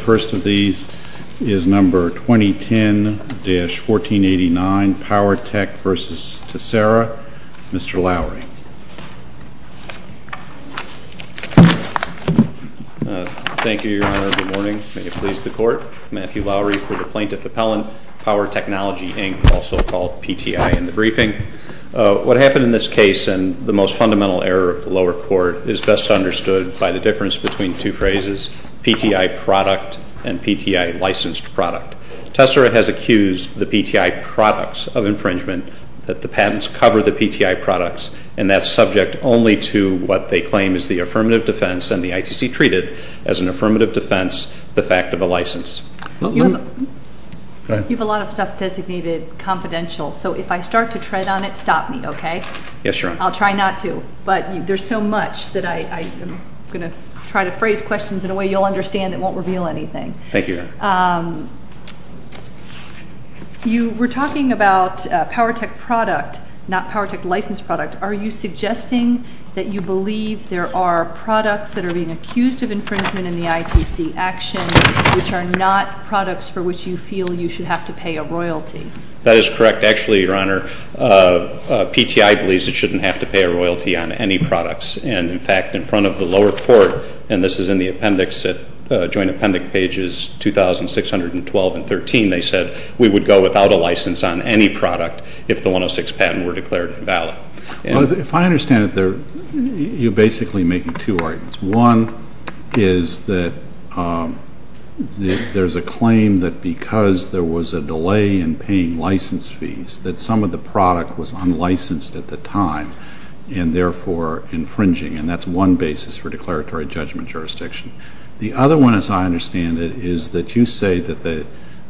The first of these is number 2010-1489, POWERTECH v. TESSERA. Mr. Lowry. Thank you, Your Honor. Good morning. May it please the Court. Matthew Lowry for the Plaintiff Appellant. POWERTECHNOLOGY, Inc., also called PTI, in the briefing. What happened in this case and the most fundamental error of the lower court is best understood by the difference between two phrases, PTI product and PTI licensed product. TESSERA has accused the PTI products of infringement, that the patents cover the PTI products, and that's subject only to what they claim is the affirmative defense and the ITC treated as an affirmative defense the fact of a license. You have a lot of stuff designated confidential, so if I start to tread on it, stop me, okay? Yes, Your Honor. I'll try not to, but there's so much that I'm going to try to phrase questions in a way you'll understand that won't reveal anything. Thank you, Your Honor. You were talking about POWERTECH product, not POWERTECH licensed product. Are you suggesting that you believe there are products that are being accused of infringement in the ITC action, which are not products for which you feel you should have to pay a royalty? That is correct. Actually, Your Honor, PTI believes it shouldn't have to pay a royalty on any products. And, in fact, in front of the lower court, and this is in the appendix at Joint Appendix Pages 2,612 and 13, they said we would go without a license on any product if the 106 patent were declared invalid. If I understand it, you're basically making two arguments. One is that there's a claim that because there was a delay in paying license fees that some of the product was unlicensed at the time and, therefore, infringing, and that's one basis for declaratory judgment jurisdiction. The other one, as I understand it, is that you say that the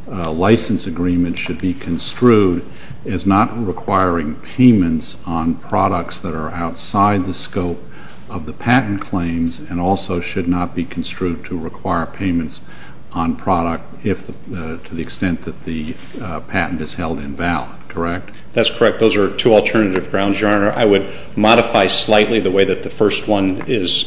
license agreement should be construed as not requiring payments on products that are outside the scope of the patent claims and also should not be construed to require payments on product to the extent that the patent is held invalid, correct? That's correct. Those are two alternative grounds, Your Honor. I would modify slightly the way that the first one is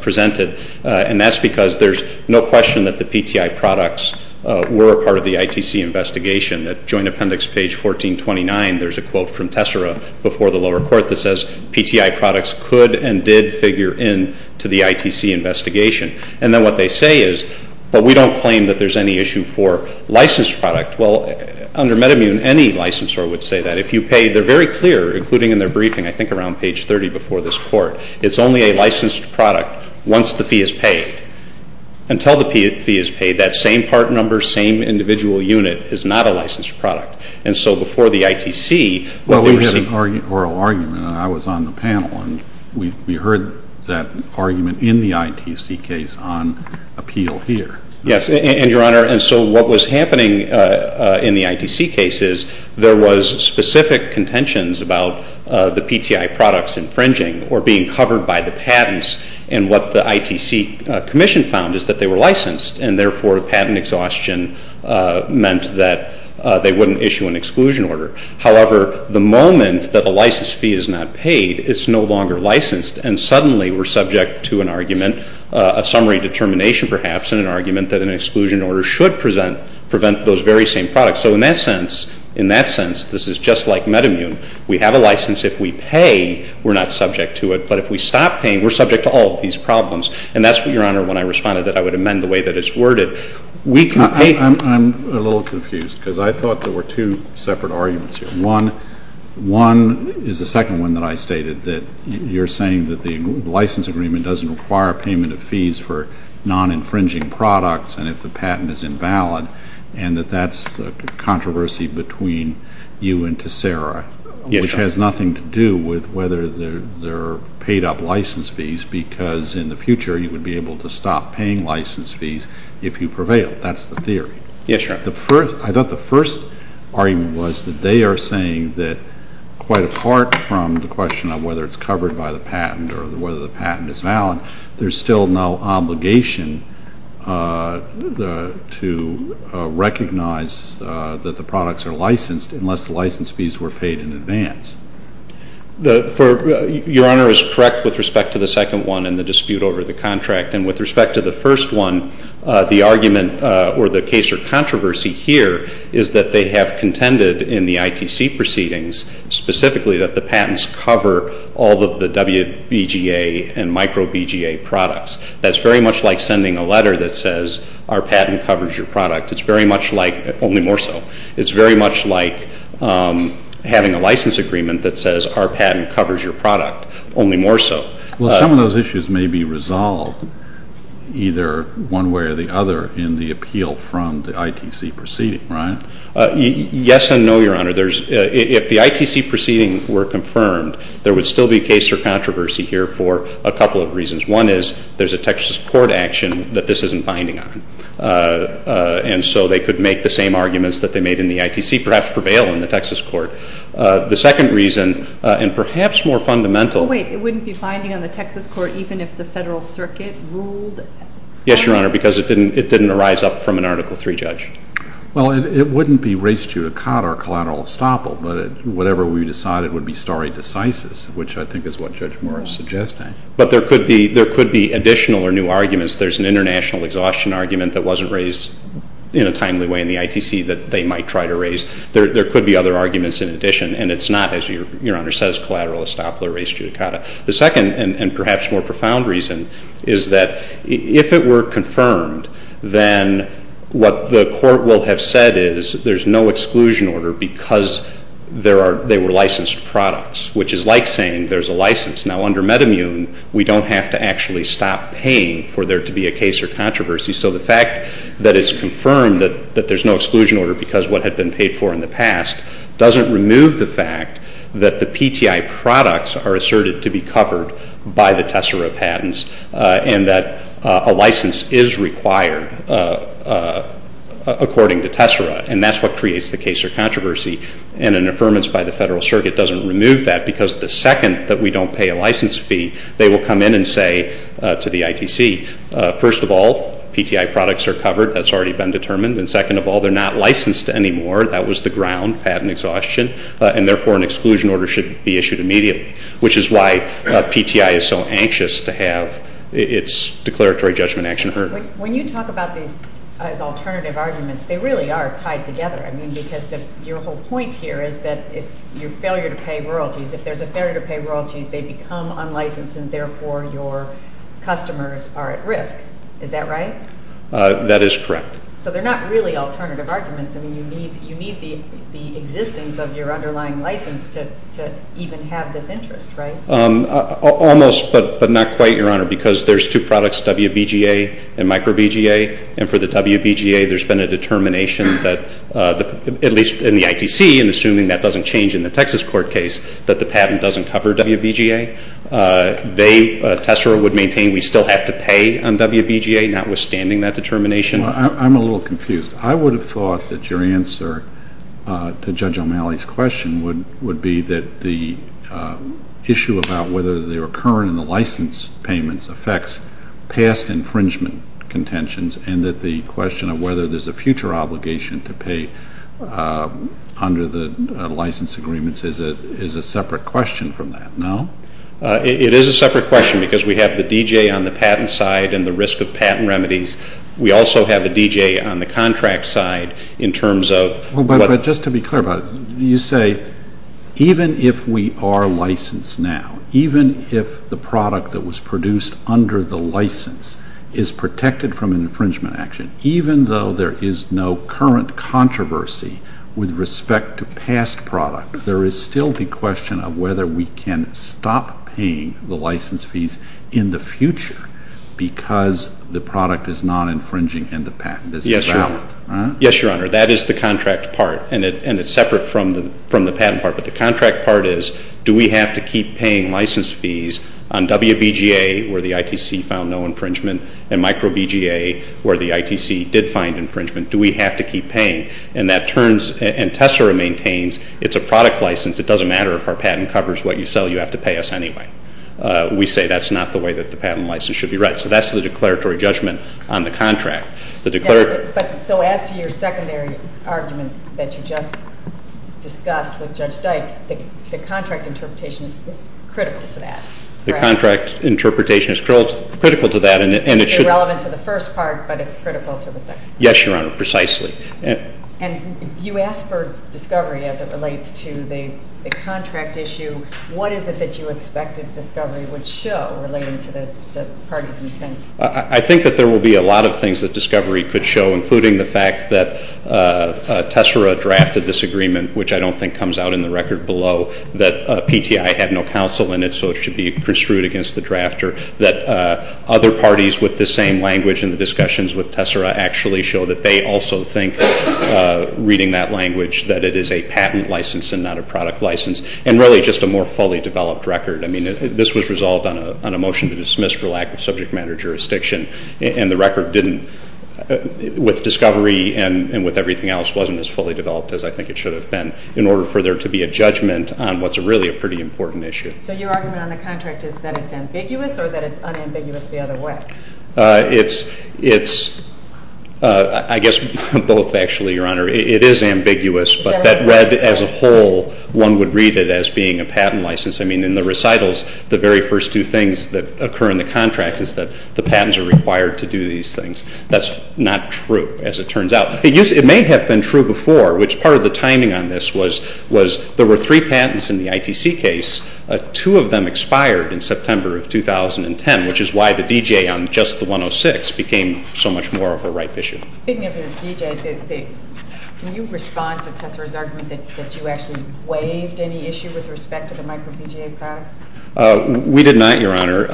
presented, and that's because there's no question that the PTI products were a part of the ITC investigation. At Joint Appendix Page 1429, there's a quote from Tessera before the lower court that says, PTI products could and did figure in to the ITC investigation. And then what they say is, but we don't claim that there's any issue for licensed product. Well, under MedImmune, any licensor would say that. If you pay, they're very clear, including in their briefing, I think around page 30 before this court, it's only a licensed product once the fee is paid. Until the fee is paid, that same part number, same individual unit is not a licensed product. And so before the ITC, what they were saying… Well, we had an oral argument, and I was on the panel, and we heard that argument in the ITC case on appeal here. Yes, and, Your Honor, and so what was happening in the ITC case is there was specific contentions about the PTI products infringing or being covered by the patents, and what the ITC commission found is that they were licensed, and therefore patent exhaustion meant that they wouldn't issue an exclusion order. However, the moment that the license fee is not paid, it's no longer licensed, and suddenly we're subject to an argument, a summary determination perhaps, and an argument that an exclusion order should prevent those very same products. So in that sense, this is just like MedImmune. We have a license. If we pay, we're not subject to it. But if we stop paying, we're subject to all of these problems. And that's what, Your Honor, when I responded, that I would amend the way that it's worded. We can pay… I'm a little confused because I thought there were two separate arguments here. One is the second one that I stated, that you're saying that the license agreement doesn't require payment of fees for non-infringing products and if the patent is invalid, and that that's a controversy between you and Tessera, which has nothing to do with whether they're paid up license fees because in the future you would be able to stop paying license fees if you prevail. That's the theory. Yes, Your Honor. I thought the first argument was that they are saying that quite apart from the question of whether it's covered by the patent or whether the patent is valid, there's still no obligation to recognize that the products are licensed unless the license fees were paid in advance. Your Honor is correct with respect to the second one and the dispute over the contract. And with respect to the first one, the argument or the case or controversy here is that they have contended in the ITC proceedings specifically that the patents cover all of the WBGA and micro-BGA products. That's very much like sending a letter that says our patent covers your product. It's very much like, only more so, it's very much like having a license agreement that says our patent covers your product, only more so. Well, some of those issues may be resolved either one way or the other in the appeal from the ITC proceeding, right? Yes and no, Your Honor. If the ITC proceedings were confirmed, there would still be a case or controversy here for a couple of reasons. One is there's a Texas court action that this isn't binding on. And so they could make the same arguments that they made in the ITC, perhaps prevail in the Texas court. The second reason, and perhaps more fundamental. Wait, it wouldn't be binding on the Texas court even if the Federal Circuit ruled? Yes, Your Honor, because it didn't arise up from an Article III judge. Well, it wouldn't be res judicata or collateral estoppel, but whatever we decided would be stare decisis, which I think is what Judge Morris is suggesting. But there could be additional or new arguments. There's an international exhaustion argument that wasn't raised in a timely way in the ITC that they might try to raise. There could be other arguments in addition. And it's not, as Your Honor says, collateral estoppel or res judicata. The second and perhaps more profound reason is that if it were confirmed, then what the court will have said is there's no exclusion order because they were licensed products, which is like saying there's a license. Now, under MedImmune, we don't have to actually stop paying for there to be a case or controversy. So the fact that it's confirmed that there's no exclusion order because of what had been paid for in the past doesn't remove the fact that the PTI products are asserted to be covered by the Tessera patents and that a license is required according to Tessera. And that's what creates the case or controversy. And an affirmance by the Federal Circuit doesn't remove that because the second that we don't pay a license fee, they will come in and say to the ITC, first of all, PTI products are covered. That's already been determined. And second of all, they're not licensed anymore. That was the ground, patent exhaustion. And therefore, an exclusion order should be issued immediately, which is why PTI is so anxious to have its declaratory judgment action heard. When you talk about these as alternative arguments, they really are tied together. I mean, because your whole point here is that it's your failure to pay royalties. If there's a failure to pay royalties, they become unlicensed, and therefore, your customers are at risk. Is that right? That is correct. So they're not really alternative arguments. I mean, you need the existence of your underlying license to even have this interest, right? Almost, but not quite, Your Honor, because there's two products, WBGA and micro-BGA. And for the WBGA, there's been a determination that, at least in the ITC, and assuming that doesn't change in the Texas court case, that the patent doesn't cover WBGA. They, Tessera, would maintain we still have to pay on WBGA, notwithstanding that determination. I'm a little confused. I would have thought that your answer to Judge O'Malley's question would be that the issue about whether they were current in the license payments affects past infringement contentions and that the question of whether there's a future obligation to pay under the license agreements is a separate question from that. No? It is a separate question because we have the DJ on the patent side and the risk of patent remedies. We also have a DJ on the contract side in terms of what- Well, but just to be clear about it, you say even if we are licensed now, even if the product that was produced under the license is protected from an infringement action, even though there is no current controversy with respect to past product, there is still the question of whether we can stop paying the license fees in the future because the product is not infringing and the patent is invalid. Yes, Your Honor. That is the contract part, and it's separate from the patent part. But the contract part is do we have to keep paying license fees on WBGA where the ITC found no infringement and micro-BGA where the ITC did find infringement? Do we have to keep paying? And that turns, and Tessera maintains, it's a product license. It doesn't matter if our patent covers what you sell. You have to pay us anyway. We say that's not the way that the patent license should be read. So that's the declaratory judgment on the contract. So as to your secondary argument that you just discussed with Judge Dyke, the contract interpretation is critical to that. The contract interpretation is critical to that. It's irrelevant to the first part, but it's critical to the second part. Yes, Your Honor, precisely. And you asked for discovery as it relates to the contract issue. What is it that you expect that discovery would show relating to the party's intent? I think that there will be a lot of things that discovery could show, including the fact that Tessera drafted this agreement, which I don't think comes out in the record below, that PTI had no counsel in it, so it should be construed against the drafter, that other parties with the same language in the discussions with Tessera actually show that they also think, reading that language, that it is a patent license and not a product license. And really just a more fully developed record. I mean this was resolved on a motion to dismiss for lack of subject matter jurisdiction, and the record didn't, with discovery and with everything else, wasn't as fully developed as I think it should have been in order for there to be a judgment on what's really a pretty important issue. So your argument on the contract is that it's ambiguous or that it's unambiguous the other way? It's, I guess, both actually, Your Honor. It is ambiguous, but that read as a whole, one would read it as being a patent license. I mean in the recitals, the very first two things that occur in the contract is that the patents are required to do these things. That's not true, as it turns out. It may have been true before, which part of the timing on this was there were three patents in the ITC case, two of them expired in September of 2010, which is why the DJ on just the 106 became so much more of a ripe issue. Speaking of the DJ, can you respond to Tessera's argument that you actually waived any issue with respect to the micro-PGA products? We did not, Your Honor.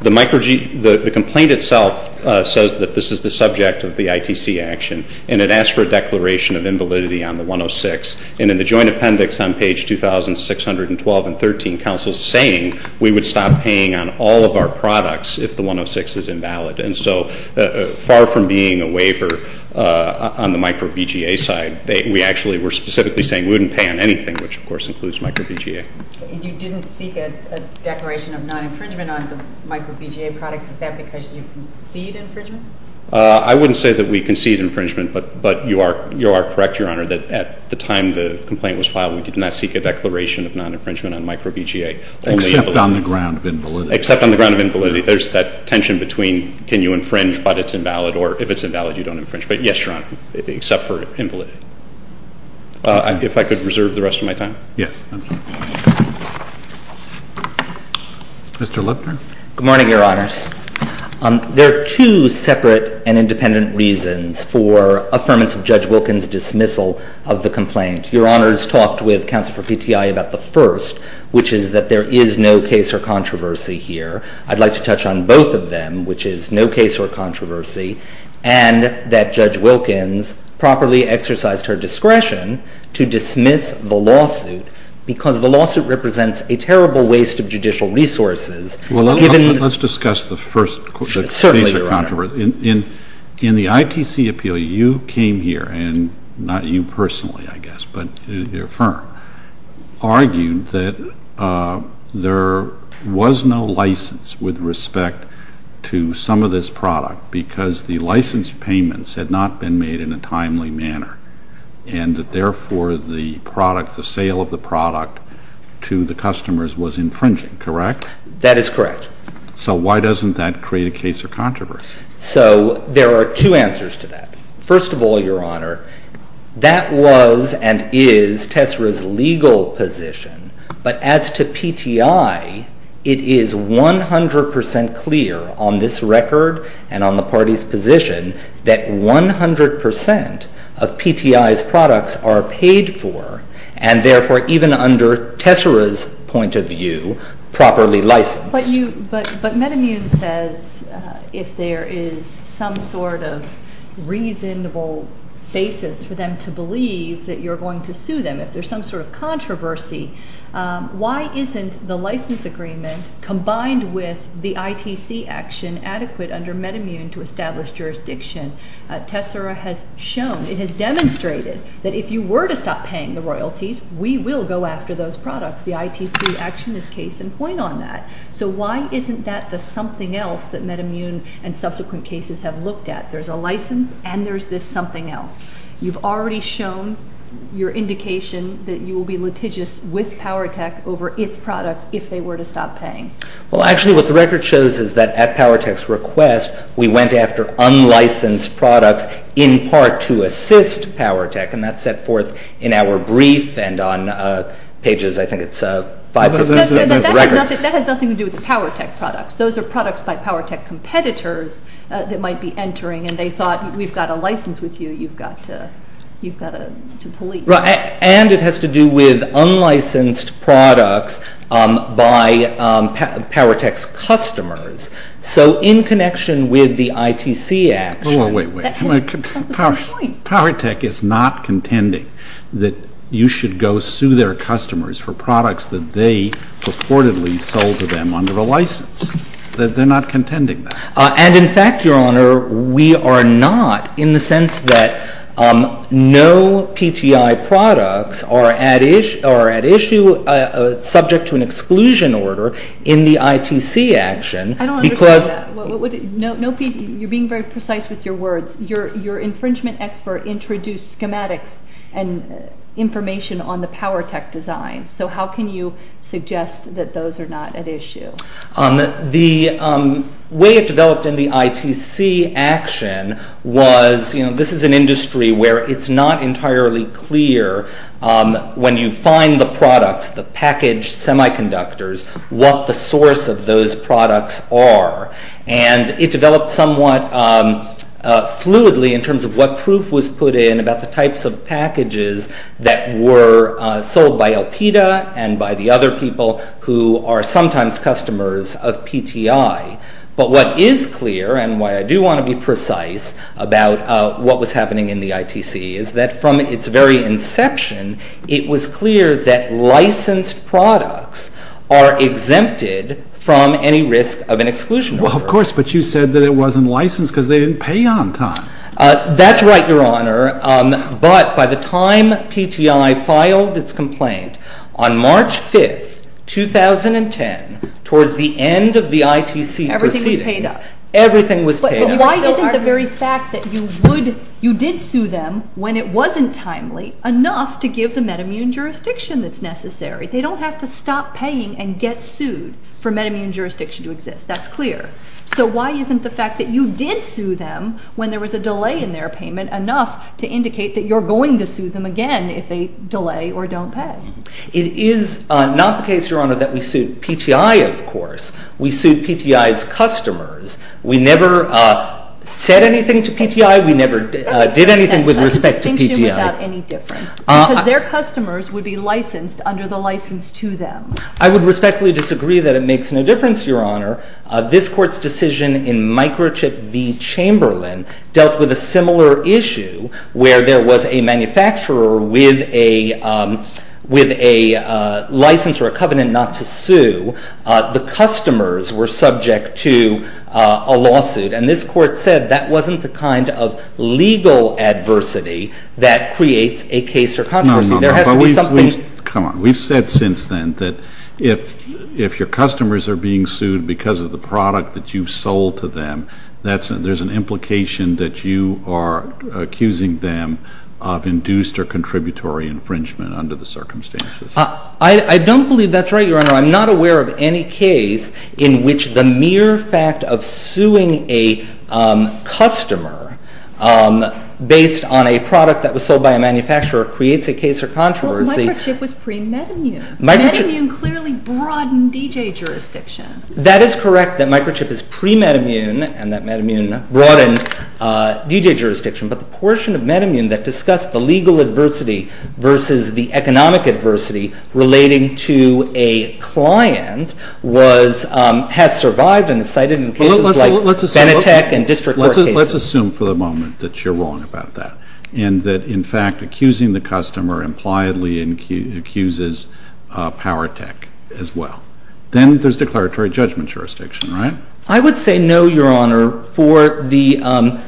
The complaint itself says that this is the subject of the ITC action, and it asks for a declaration of invalidity on the 106. And in the joint appendix on page 2,612 and 13, counsel is saying we would stop paying on all of our products if the 106 is invalid. And so far from being a waiver on the micro-PGA side, we actually were specifically saying we wouldn't pay on anything, which of course includes micro-PGA. You didn't seek a declaration of non-infringement on the micro-PGA products. Is that because you concede infringement? I wouldn't say that we concede infringement, but you are correct, Your Honor, that at the time the complaint was filed, we did not seek a declaration of non-infringement on micro-PGA. Except on the ground of invalidity. Except on the ground of invalidity. There's that tension between can you infringe but it's invalid, or if it's invalid you don't infringe. But yes, Your Honor, except for invalidity. If I could reserve the rest of my time. Yes. Mr. Lupton. Good morning, Your Honors. There are two separate and independent reasons for affirmance of Judge Wilkins' dismissal of the complaint. Your Honors talked with counsel for PTI about the first, which is that there is no case or controversy here. I'd like to touch on both of them, which is no case or controversy, and that Judge Wilkins properly exercised her discretion to dismiss the lawsuit because the lawsuit represents a terrible waste of judicial resources. Well, let's discuss the first case or controversy. Certainly, Your Honor. In the ITC appeal, you came here, and not you personally, I guess, but your firm argued that there was no license with respect to some of this product because the license payments had not been made in a timely manner and that therefore the sale of the product to the customers was infringing, correct? That is correct. So why doesn't that create a case or controversy? So there are two answers to that. First of all, Your Honor, that was and is Tessera's legal position, but as to PTI, it is 100% clear on this record and on the party's position that 100% of PTI's products are paid for and therefore even under Tessera's point of view, properly licensed. But MedImmune says if there is some sort of reasonable basis for them to believe that you're going to sue them, if there's some sort of controversy, why isn't the license agreement combined with the ITC action adequate under MedImmune to establish jurisdiction? Tessera has shown, it has demonstrated, that if you were to stop paying the royalties, we will go after those products. The ITC action is case in point on that. So why isn't that the something else that MedImmune and subsequent cases have looked at? There's a license and there's this something else. You've already shown your indication that you will be litigious with Powertech over its products if they were to stop paying. Well, actually what the record shows is that at Powertech's request, we went after unlicensed products in part to assist Powertech, and that's set forth in our brief and on pages, I think it's 5-6 of the record. That has nothing to do with the Powertech products. Those are products by Powertech competitors that might be entering, and they thought we've got a license with you, you've got to police. And it has to do with unlicensed products by Powertech's customers. So in connection with the ITC action. Wait, wait, wait. Powertech is not contending that you should go sue their customers for products that they purportedly sold to them under a license. They're not contending that. And in fact, Your Honor, we are not in the sense that no PTI products are at issue subject to an exclusion order in the ITC action. I don't understand that. You're being very precise with your words. Your infringement expert introduced schematics and information on the Powertech design. So how can you suggest that those are not at issue? The way it developed in the ITC action was, you know, this is an industry where it's not entirely clear when you find the products, the packaged semiconductors, what the source of those products are. And it developed somewhat fluidly in terms of what proof was put in about the types of packages that were sold by Alpida and by the other people who are sometimes customers of PTI. But what is clear and why I do want to be precise about what was happening in the ITC is that from its very inception, it was clear that licensed products are exempted from any risk of an exclusion order. Well, of course, but you said that it wasn't licensed because they didn't pay on time. That's right, Your Honor. But by the time PTI filed its complaint on March 5, 2010, towards the end of the ITC proceedings, everything was paid up. But why isn't the very fact that you did sue them when it wasn't timely enough to give the metamune jurisdiction that's necessary? They don't have to stop paying and get sued for metamune jurisdiction to exist. That's clear. So why isn't the fact that you did sue them when there was a delay in their payment enough to indicate that you're going to sue them again if they delay or don't pay? It is not the case, Your Honor, that we sued PTI, of course. We sued PTI's customers. We never said anything to PTI. We never did anything with respect to PTI. Because their customers would be licensed under the license to them. I would respectfully disagree that it makes no difference, Your Honor. This Court's decision in Microchip v. Chamberlain dealt with a similar issue where there was a manufacturer with a license or a covenant not to sue. The customers were subject to a lawsuit. And this Court said that wasn't the kind of legal adversity that creates a case or controversy. No, no, no. Come on. We've said since then that if your customers are being sued because of the product that you've sold to them, there's an implication that you are accusing them of induced or contributory infringement under the circumstances. I don't believe that's right, Your Honor. I'm not aware of any case in which the mere fact of suing a customer based on a product that was sold by a manufacturer creates a case or controversy. Well, Microchip was pre-Metamune. Metamune clearly broadened DJ jurisdiction. That is correct, that Microchip is pre-Metamune and that Metamune broadened DJ jurisdiction. But the portion of Metamune that discussed the legal adversity versus the economic adversity relating to a client has survived and is cited in cases like Benetech and district court cases. Let's assume for the moment that you're wrong about that and that in fact accusing the customer impliedly accuses Powertech as well. Then there's declaratory judgment jurisdiction, right? I would say no, Your Honor, for the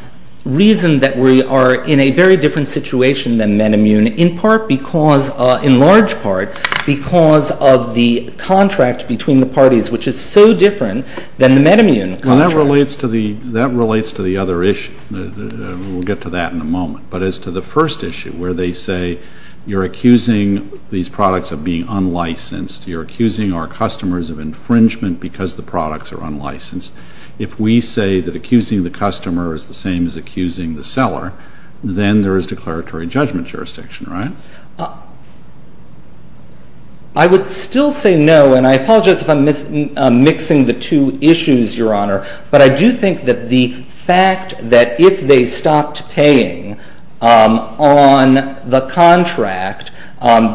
reason that we are in a very different situation than Metamune in large part because of the contract between the parties, which is so different than the Metamune contract. That relates to the other issue. We'll get to that in a moment. But as to the first issue where they say you're accusing these products of being unlicensed, you're accusing our customers of infringement because the products are unlicensed, if we say that accusing the customer is the same as accusing the seller, then there is declaratory judgment jurisdiction, right? I would still say no, and I apologize if I'm mixing the two issues, Your Honor, but I do think that the fact that if they stopped paying on the contract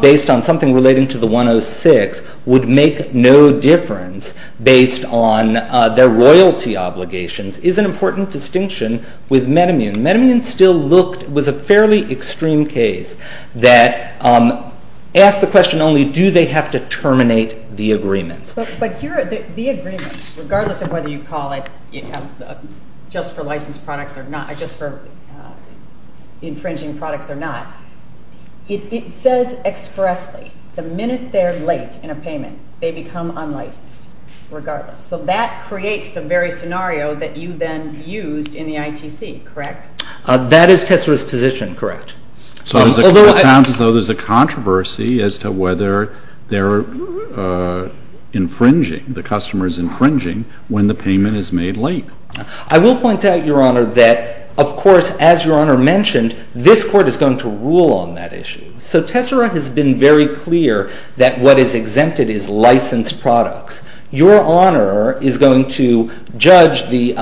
based on something relating to the 106 would make no difference based on their royalty obligations is an important distinction with Metamune. Metamune was a fairly extreme case that asked the question only, do they have to terminate the agreement? But the agreement, regardless of whether you call it just for infringing products or not, it says expressly the minute they're late in a payment they become unlicensed regardless. So that creates the very scenario that you then used in the ITC, correct? That is Tessera's position, correct. So it sounds as though there's a controversy as to whether they're infringing, the customer is infringing when the payment is made late. I will point out, Your Honor, that of course, as Your Honor mentioned, this Court is going to rule on that issue. So Tessera has been very clear that what is exempted is licensed products. Your Honor is going to judge the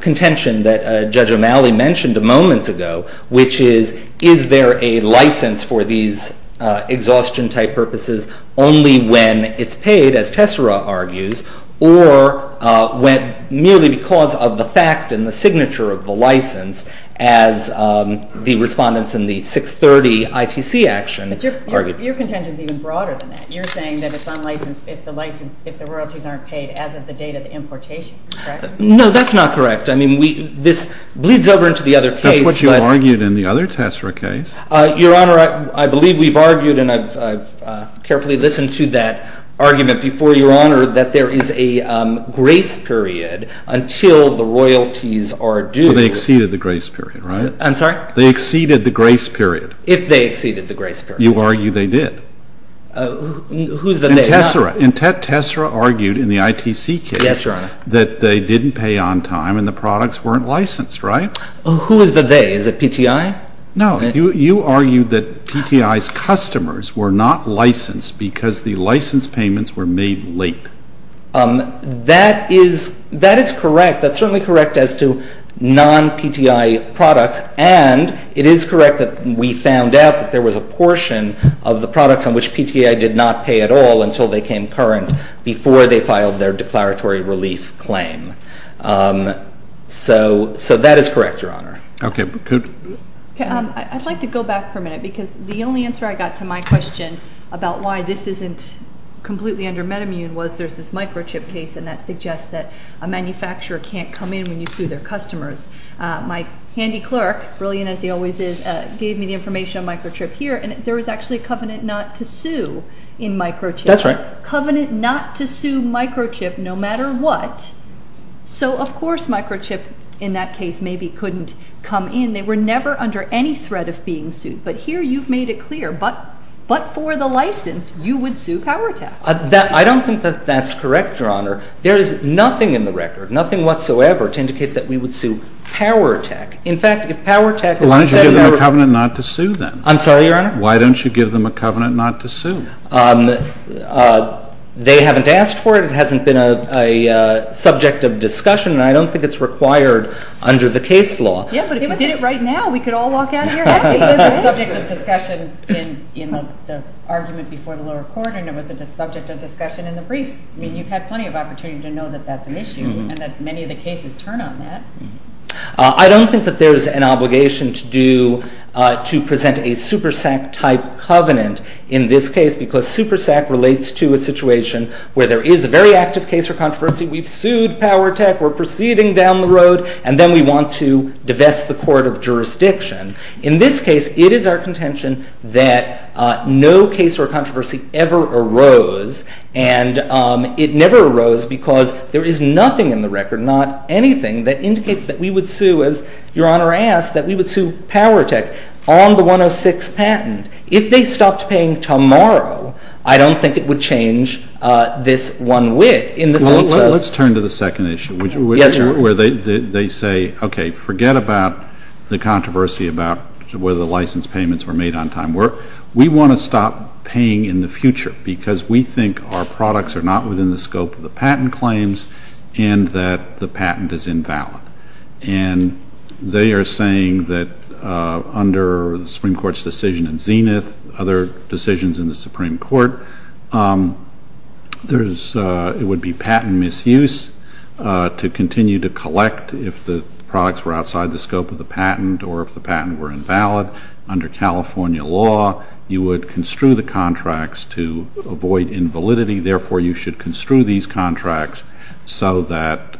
contention that Judge O'Malley mentioned a moment ago, which is, is there a license for these exhaustion-type purposes only when it's paid, as Tessera argues, or merely because of the fact and the signature of the license as the respondents in the 630 ITC action argued. But your contention is even broader than that. You're saying that it's unlicensed if the royalties aren't paid as of the date of the importation, correct? No, that's not correct. I mean, this bleeds over into the other case. That's what you argued in the other Tessera case. Your Honor, I believe we've argued, and I've carefully listened to that argument before, Your Honor, that there is a grace period until the royalties are due. But they exceeded the grace period, right? I'm sorry? They exceeded the grace period. If they exceeded the grace period. You argue they did. Who's the they? And Tessera argued in the ITC case that they didn't pay on time and the products weren't licensed, right? Who is the they? Is it PTI? No. You argued that PTI's customers were not licensed because the license payments were made late. That is correct. That's certainly correct as to non-PTI products. And it is correct that we found out that there was a portion of the products on which PTI did not pay at all until they came current before they filed their declaratory relief claim. So that is correct, Your Honor. Okay. I'd like to go back for a minute because the only answer I got to my question about why this isn't completely under MedImmune was there's this microchip case and that suggests that a manufacturer can't come in when you sue their customers. My handy clerk, brilliant as he always is, gave me the information on microchip here and there was actually a covenant not to sue in microchip. That's right. Covenant not to sue microchip no matter what. So of course microchip in that case maybe couldn't come in. They were never under any threat of being sued. But here you've made it clear but for the license you would sue PowerTap. I don't think that that's correct, Your Honor. There is nothing in the record, nothing whatsoever to indicate that we would sue PowerTap. In fact, if PowerTap is intended to- Why don't you give them a covenant not to sue then? I'm sorry, Your Honor? Why don't you give them a covenant not to sue? They haven't asked for it. It hasn't been a subject of discussion and I don't think it's required under the case law. Yeah, but if you did it right now we could all walk out of here happy. It was a subject of discussion in the argument before the lower court and it was a subject of discussion in the briefs. I mean you've had plenty of opportunity to know that that's an issue and that many of the cases turn on that. I don't think that there's an obligation to present a SuperSAC type covenant in this case because SuperSAC relates to a situation where there is a very active case or controversy. We've sued PowerTap. We're proceeding down the road and then we want to divest the court of jurisdiction. In this case it is our contention that no case or controversy ever arose and it never arose because there is nothing in the record, not anything, that indicates that we would sue, as Your Honor asked, that we would sue PowerTap on the 106 patent. If they stopped paying tomorrow I don't think it would change this one wit in the sense of Well, let's turn to the second issue. Yes, Your Honor. Where they say, okay, forget about the controversy about whether the license payments were made on time. We want to stop paying in the future because we think our products are not within the scope of the patent claims and that the patent is invalid. And they are saying that under the Supreme Court's decision in Zenith, other decisions in the Supreme Court, it would be patent misuse to continue to collect if the products were outside the scope of the patent or if the patent were invalid. Under California law you would construe the contracts to avoid invalidity. Therefore, you should construe these contracts so that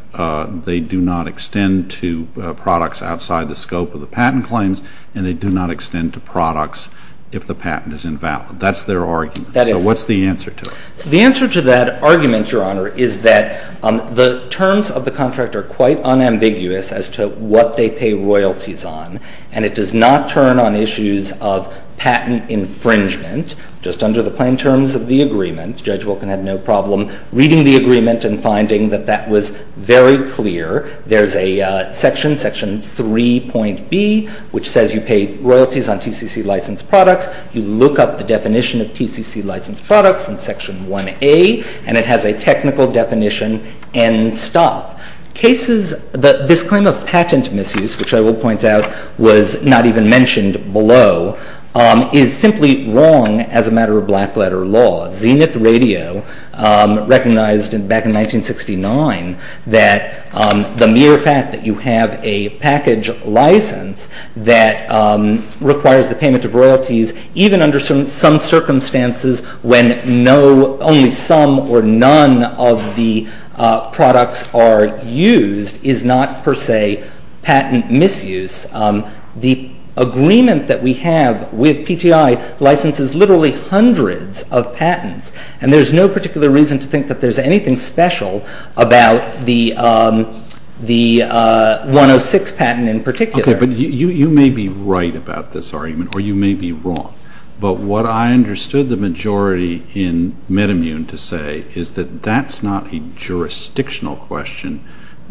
they do not extend to products outside the scope of the patent claims and they do not extend to products if the patent is invalid. That's their argument. That is. So what's the answer to it? The answer to that argument, Your Honor, is that the terms of the contract are quite unambiguous as to what they pay royalties on. And it does not turn on issues of patent infringement just under the plain terms of the agreement. Judge Wilkin had no problem reading the agreement and finding that that was very clear. There's a section, Section 3.B, which says you pay royalties on TCC-licensed products. You look up the definition of TCC-licensed products in Section 1A, and it has a technical definition end stop. This claim of patent misuse, which I will point out was not even mentioned below, is simply wrong as a matter of black-letter law. Zenith Radio recognized back in 1969 that the mere fact that you have a package license that requires the payment of royalties even under some circumstances when only some or none of the products are used is not, per se, patent misuse. The agreement that we have with PTI licenses literally hundreds of patents, and there's no particular reason to think that there's anything special about the 106 patent in particular. Okay, but you may be right about this argument, or you may be wrong. But what I understood the majority in MedImmune to say is that that's not a jurisdictional question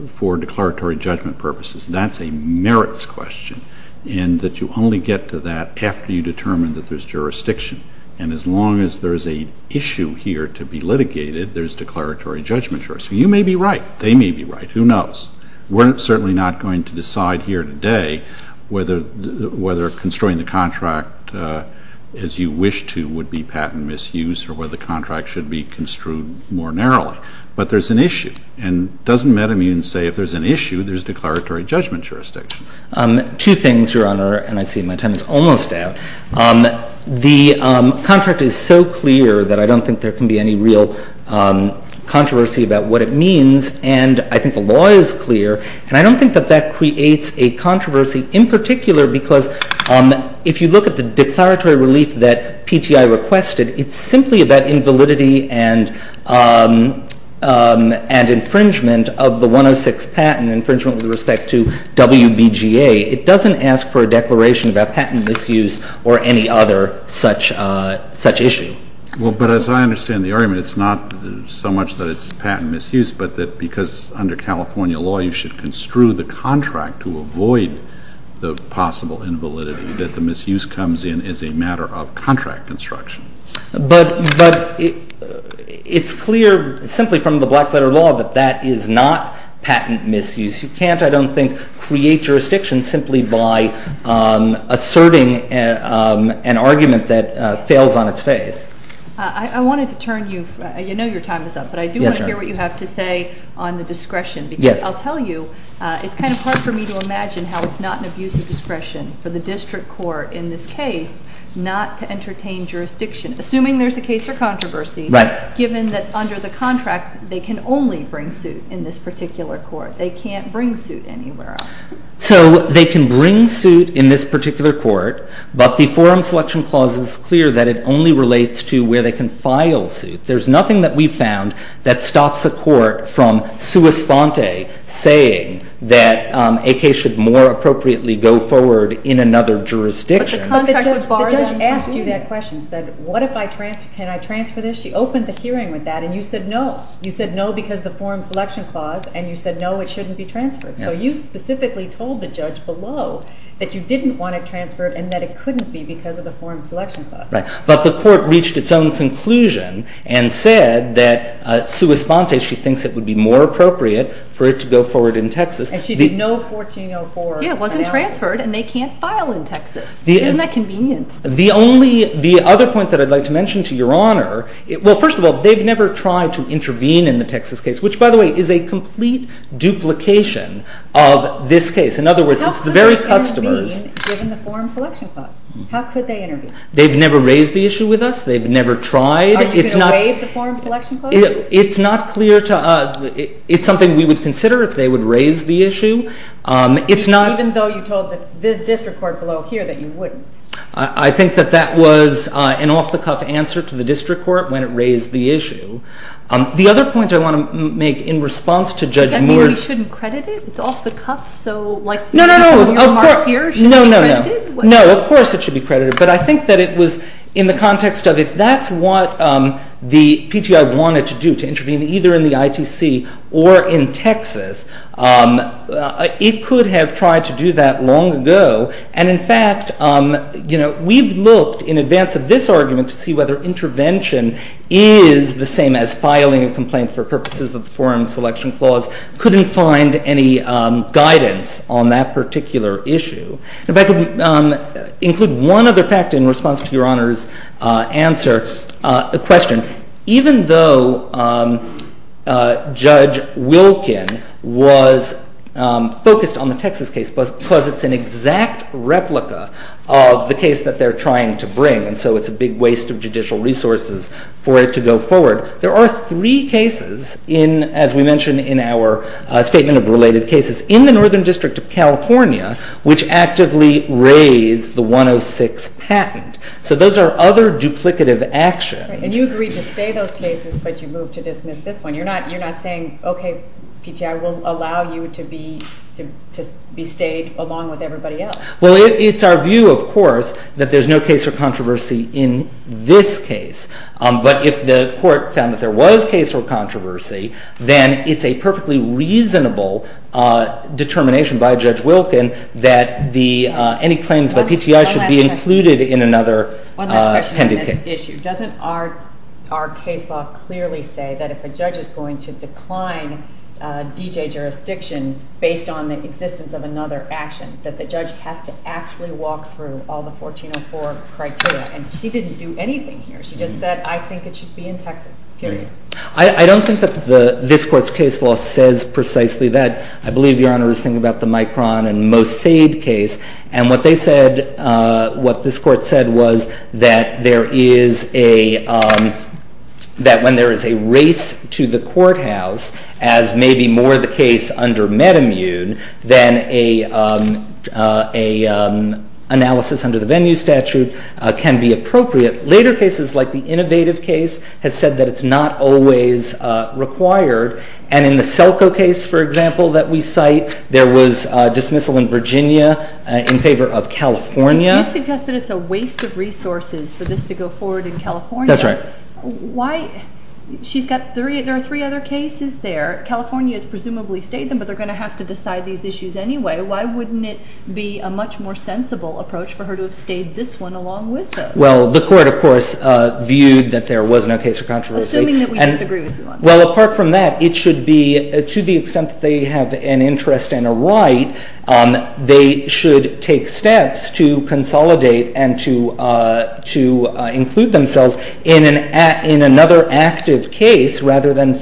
for declaratory judgment purposes. That's a merits question, and that you only get to that after you determine that there's jurisdiction. And as long as there's an issue here to be litigated, there's declaratory judgment. So you may be right. They may be right. Who knows? We're certainly not going to decide here today whether construing the contract as you wish to would be patent misuse or whether the contract should be construed more narrowly. But there's an issue. And doesn't MedImmune say if there's an issue, there's declaratory judgment jurisdiction? Two things, Your Honor, and I see my time is almost out. The contract is so clear that I don't think there can be any real controversy about what it means. And I think the law is clear, and I don't think that that creates a controversy in particular because if you look at the declaratory relief that PTI requested, it's simply about invalidity and infringement of the 106 patent, infringement with respect to WBGA. It doesn't ask for a declaration about patent misuse or any other such issue. Well, but as I understand the argument, it's not so much that it's patent misuse, but that because under California law you should construe the contract to avoid the possible invalidity that the misuse comes in as a matter of contract construction. But it's clear simply from the black-letter law that that is not patent misuse. You can't, I don't think, create jurisdiction simply by asserting an argument that fails on its face. I wanted to turn you, you know your time is up, but I do want to hear what you have to say on the discretion. Because I'll tell you, it's kind of hard for me to imagine how it's not an abuse of discretion for the district court in this case not to entertain jurisdiction, assuming there's a case for controversy, given that under the contract they can only bring suit in this particular court. They can't bring suit anywhere else. So they can bring suit in this particular court, but the Forum Selection Clause is clear that it only relates to where they can file suit. There's nothing that we've found that stops a court from sua sponte, saying that a case should more appropriately go forward in another jurisdiction. But the contract would bar them from doing it. But the judge asked you that question, said, what if I transfer, can I transfer this? She opened the hearing with that, and you said no. You said no because of the Forum Selection Clause, and you said no, it shouldn't be transferred. So you specifically told the judge below that you didn't want it transferred and that it couldn't be because of the Forum Selection Clause. Right. But the court reached its own conclusion and said that sua sponte, she thinks it would be more appropriate for it to go forward in Texas. And she did no 1404 analysis. Yeah, it wasn't transferred, and they can't file in Texas. Isn't that convenient? The only, the other point that I'd like to mention to Your Honor, well, first of all, they've never tried to intervene in the Texas case, which, by the way, is a complete duplication of this case. In other words, it's the very customers. How could they intervene given the Forum Selection Clause? How could they intervene? They've never raised the issue with us. They've never tried. Are you going to waive the Forum Selection Clause? It's not clear to us. It's something we would consider if they would raise the issue. Even though you told the district court below here that you wouldn't? I think that that was an off-the-cuff answer to the district court when it raised the issue. The other point I want to make in response to Judge Moore's. Does that mean we shouldn't credit it? It's off-the-cuff, so like some of your remarks here should be credited? No, of course it should be credited. But I think that it was in the context of if that's what the PGI wanted to do, to intervene either in the ITC or in Texas, it could have tried to do that long ago. And in fact, you know, we've looked in advance of this argument to see whether intervention is the same as filing a complaint for purposes of the Forum Selection Clause. Couldn't find any guidance on that particular issue. If I could include one other fact in response to Your Honor's answer, a question. Even though Judge Wilkin was focused on the Texas case because it's an exact replica of the case that they're trying to bring, and so it's a big waste of judicial resources for it to go forward, there are three cases, as we mentioned in our statement of related cases, in the Northern District of California which actively raise the 106 patent. So those are other duplicative actions. And you agreed to stay those cases, but you moved to dismiss this one. You're not saying, okay, PGI, we'll allow you to be stayed along with everybody else. Well, it's our view, of course, that there's no case for controversy in this case. But if the court found that there was case for controversy, then it's a perfectly reasonable determination by Judge Wilkin that any claims by PGI should be included in another pending case. One last question on this issue. Doesn't our case law clearly say that if a judge is going to decline D.J. jurisdiction based on the existence of another action, that the judge has to actually walk through all the 1404 criteria? And she didn't do anything here. She just said, I think it should be in Texas, period. I don't think that this Court's case law says precisely that. I believe Your Honor is thinking about the Micron and Mossade case. And what they said, what this Court said was that there is a, that when there is a race to the courthouse, as may be more the case under MedImmune, then an analysis under the venue statute can be appropriate. Later cases, like the Innovative case, has said that it's not always required. And in the Selco case, for example, that we cite, there was dismissal in Virginia in favor of California. And you suggest that it's a waste of resources for this to go forward in California. That's right. Why? She's got three, there are three other cases there. California has presumably stayed them, but they're going to have to decide these issues anyway. Why wouldn't it be a much more sensible approach for her to have stayed this one along with those? Well, the Court, of course, viewed that there was no case for controversy. Assuming that we disagree with you on that. Well, apart from that, it should be, to the extent that they have an interest and a right, they should take steps to consolidate and to include themselves in another active case rather than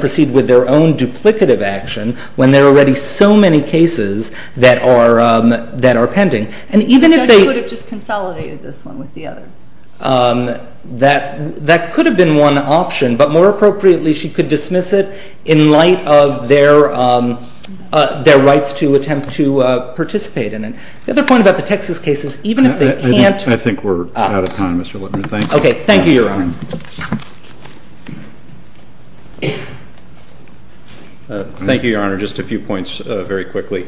proceed with their own duplicative action when there are already so many cases that are pending. And even if they... The judge could have just consolidated this one with the others. That could have been one option, but more appropriately she could dismiss it in light of their rights to attempt to participate in it. The other point about the Texas case is even if they can't... I think we're out of time, Mr. Littner. Thank you. Okay, thank you, Your Honor. Thank you, Your Honor. Just a few points very quickly.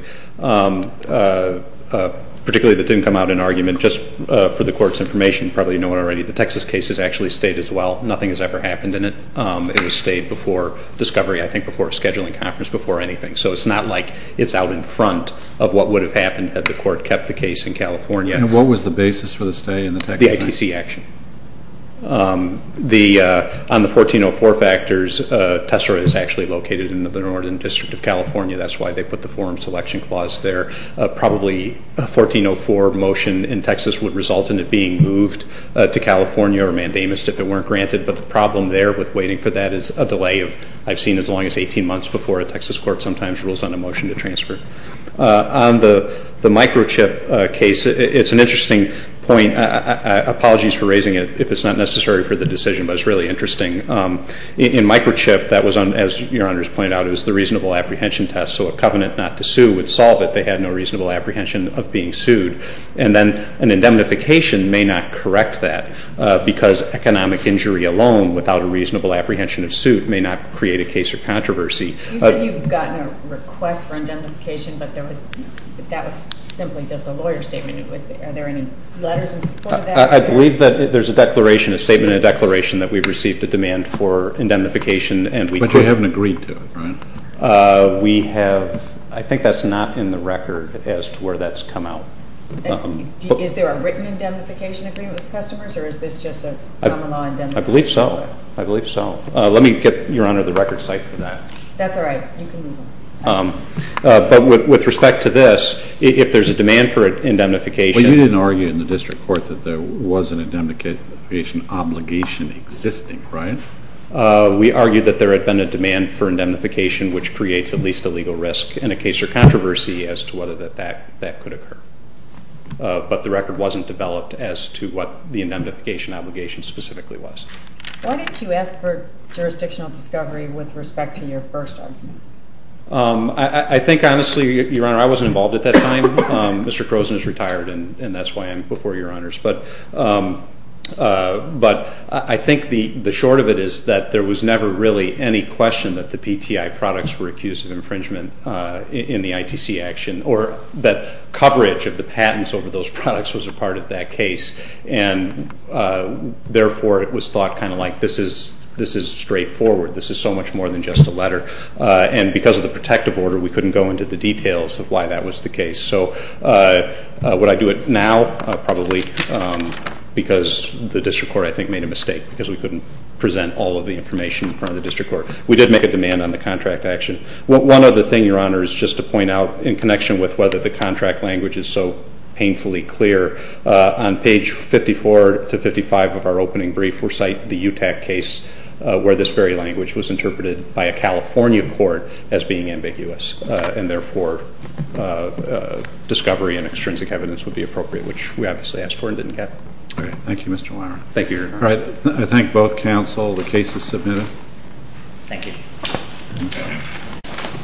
Particularly that didn't come out in argument, just for the Court's information, probably you know already, the Texas case has actually stayed as well. Nothing has ever happened in it. It has stayed before discovery, I think before a scheduling conference, before anything. So it's not like it's out in front of what would have happened had the Court kept the case in California. And what was the basis for the stay in the Texas case? The ITC action. On the 1404 factors, Tessera is actually located in the Northern District of California. That's why they put the forum selection clause there. Probably a 1404 motion in Texas would result in it being moved to California or Mandamus if it weren't granted. But the problem there with waiting for that is a delay of... I've seen as long as 18 months before a Texas court sometimes rules on a motion to transfer. On the microchip case, it's an interesting point. Apologies for raising it if it's not necessary for the decision, but it's really interesting. In microchip, that was on, as Your Honor has pointed out, it was the reasonable apprehension test. So a covenant not to sue would solve it. They had no reasonable apprehension of being sued. And then an indemnification may not correct that because economic injury alone, without a reasonable apprehension of suit, may not create a case or controversy. You said you've gotten a request for indemnification, but that was simply just a lawyer's statement. Are there any letters in support of that? I believe that there's a declaration, a statement in a declaration, that we've received a demand for indemnification. But you haven't agreed to it, right? We have. I think that's not in the record as to where that's come out. Is there a written indemnification agreement with the customers, or is this just a common law indemnification request? I believe so. I believe so. Let me get, Your Honor, the record site for that. That's all right. You can leave it. But with respect to this, if there's a demand for indemnification. But you didn't argue in the district court that there was an indemnification obligation existing, right? We argued that there had been a demand for indemnification, which creates at least a legal risk in a case or controversy as to whether that could occur. But the record wasn't developed as to what the indemnification obligation specifically was. Why didn't you ask for jurisdictional discovery with respect to your first argument? I think, honestly, Your Honor, I wasn't involved at that time. Mr. Croson is retired, and that's why I'm before Your Honors. But I think the short of it is that there was never really any question that the PTI products were accused of infringement in the ITC action, or that coverage of the patents over those products was a part of that case. And therefore, it was thought kind of like this is straightforward. This is so much more than just a letter. And because of the protective order, we couldn't go into the details of why that was the case. So would I do it now? Probably, because the district court, I think, made a mistake because we couldn't present all of the information in front of the district court. We did make a demand on the contract action. One other thing, Your Honor, is just to point out, in connection with whether the contract language is so painfully clear, on page 54 to 55 of our opening brief, we'll cite the UTAC case where this very language was interpreted by a California court as being ambiguous. And therefore, discovery and extrinsic evidence would be appropriate, which we obviously asked for and didn't get. All right. Thank you, Mr. Weiner. Thank you, Your Honor. All right. I thank both counsel. The case is submitted. Thank you.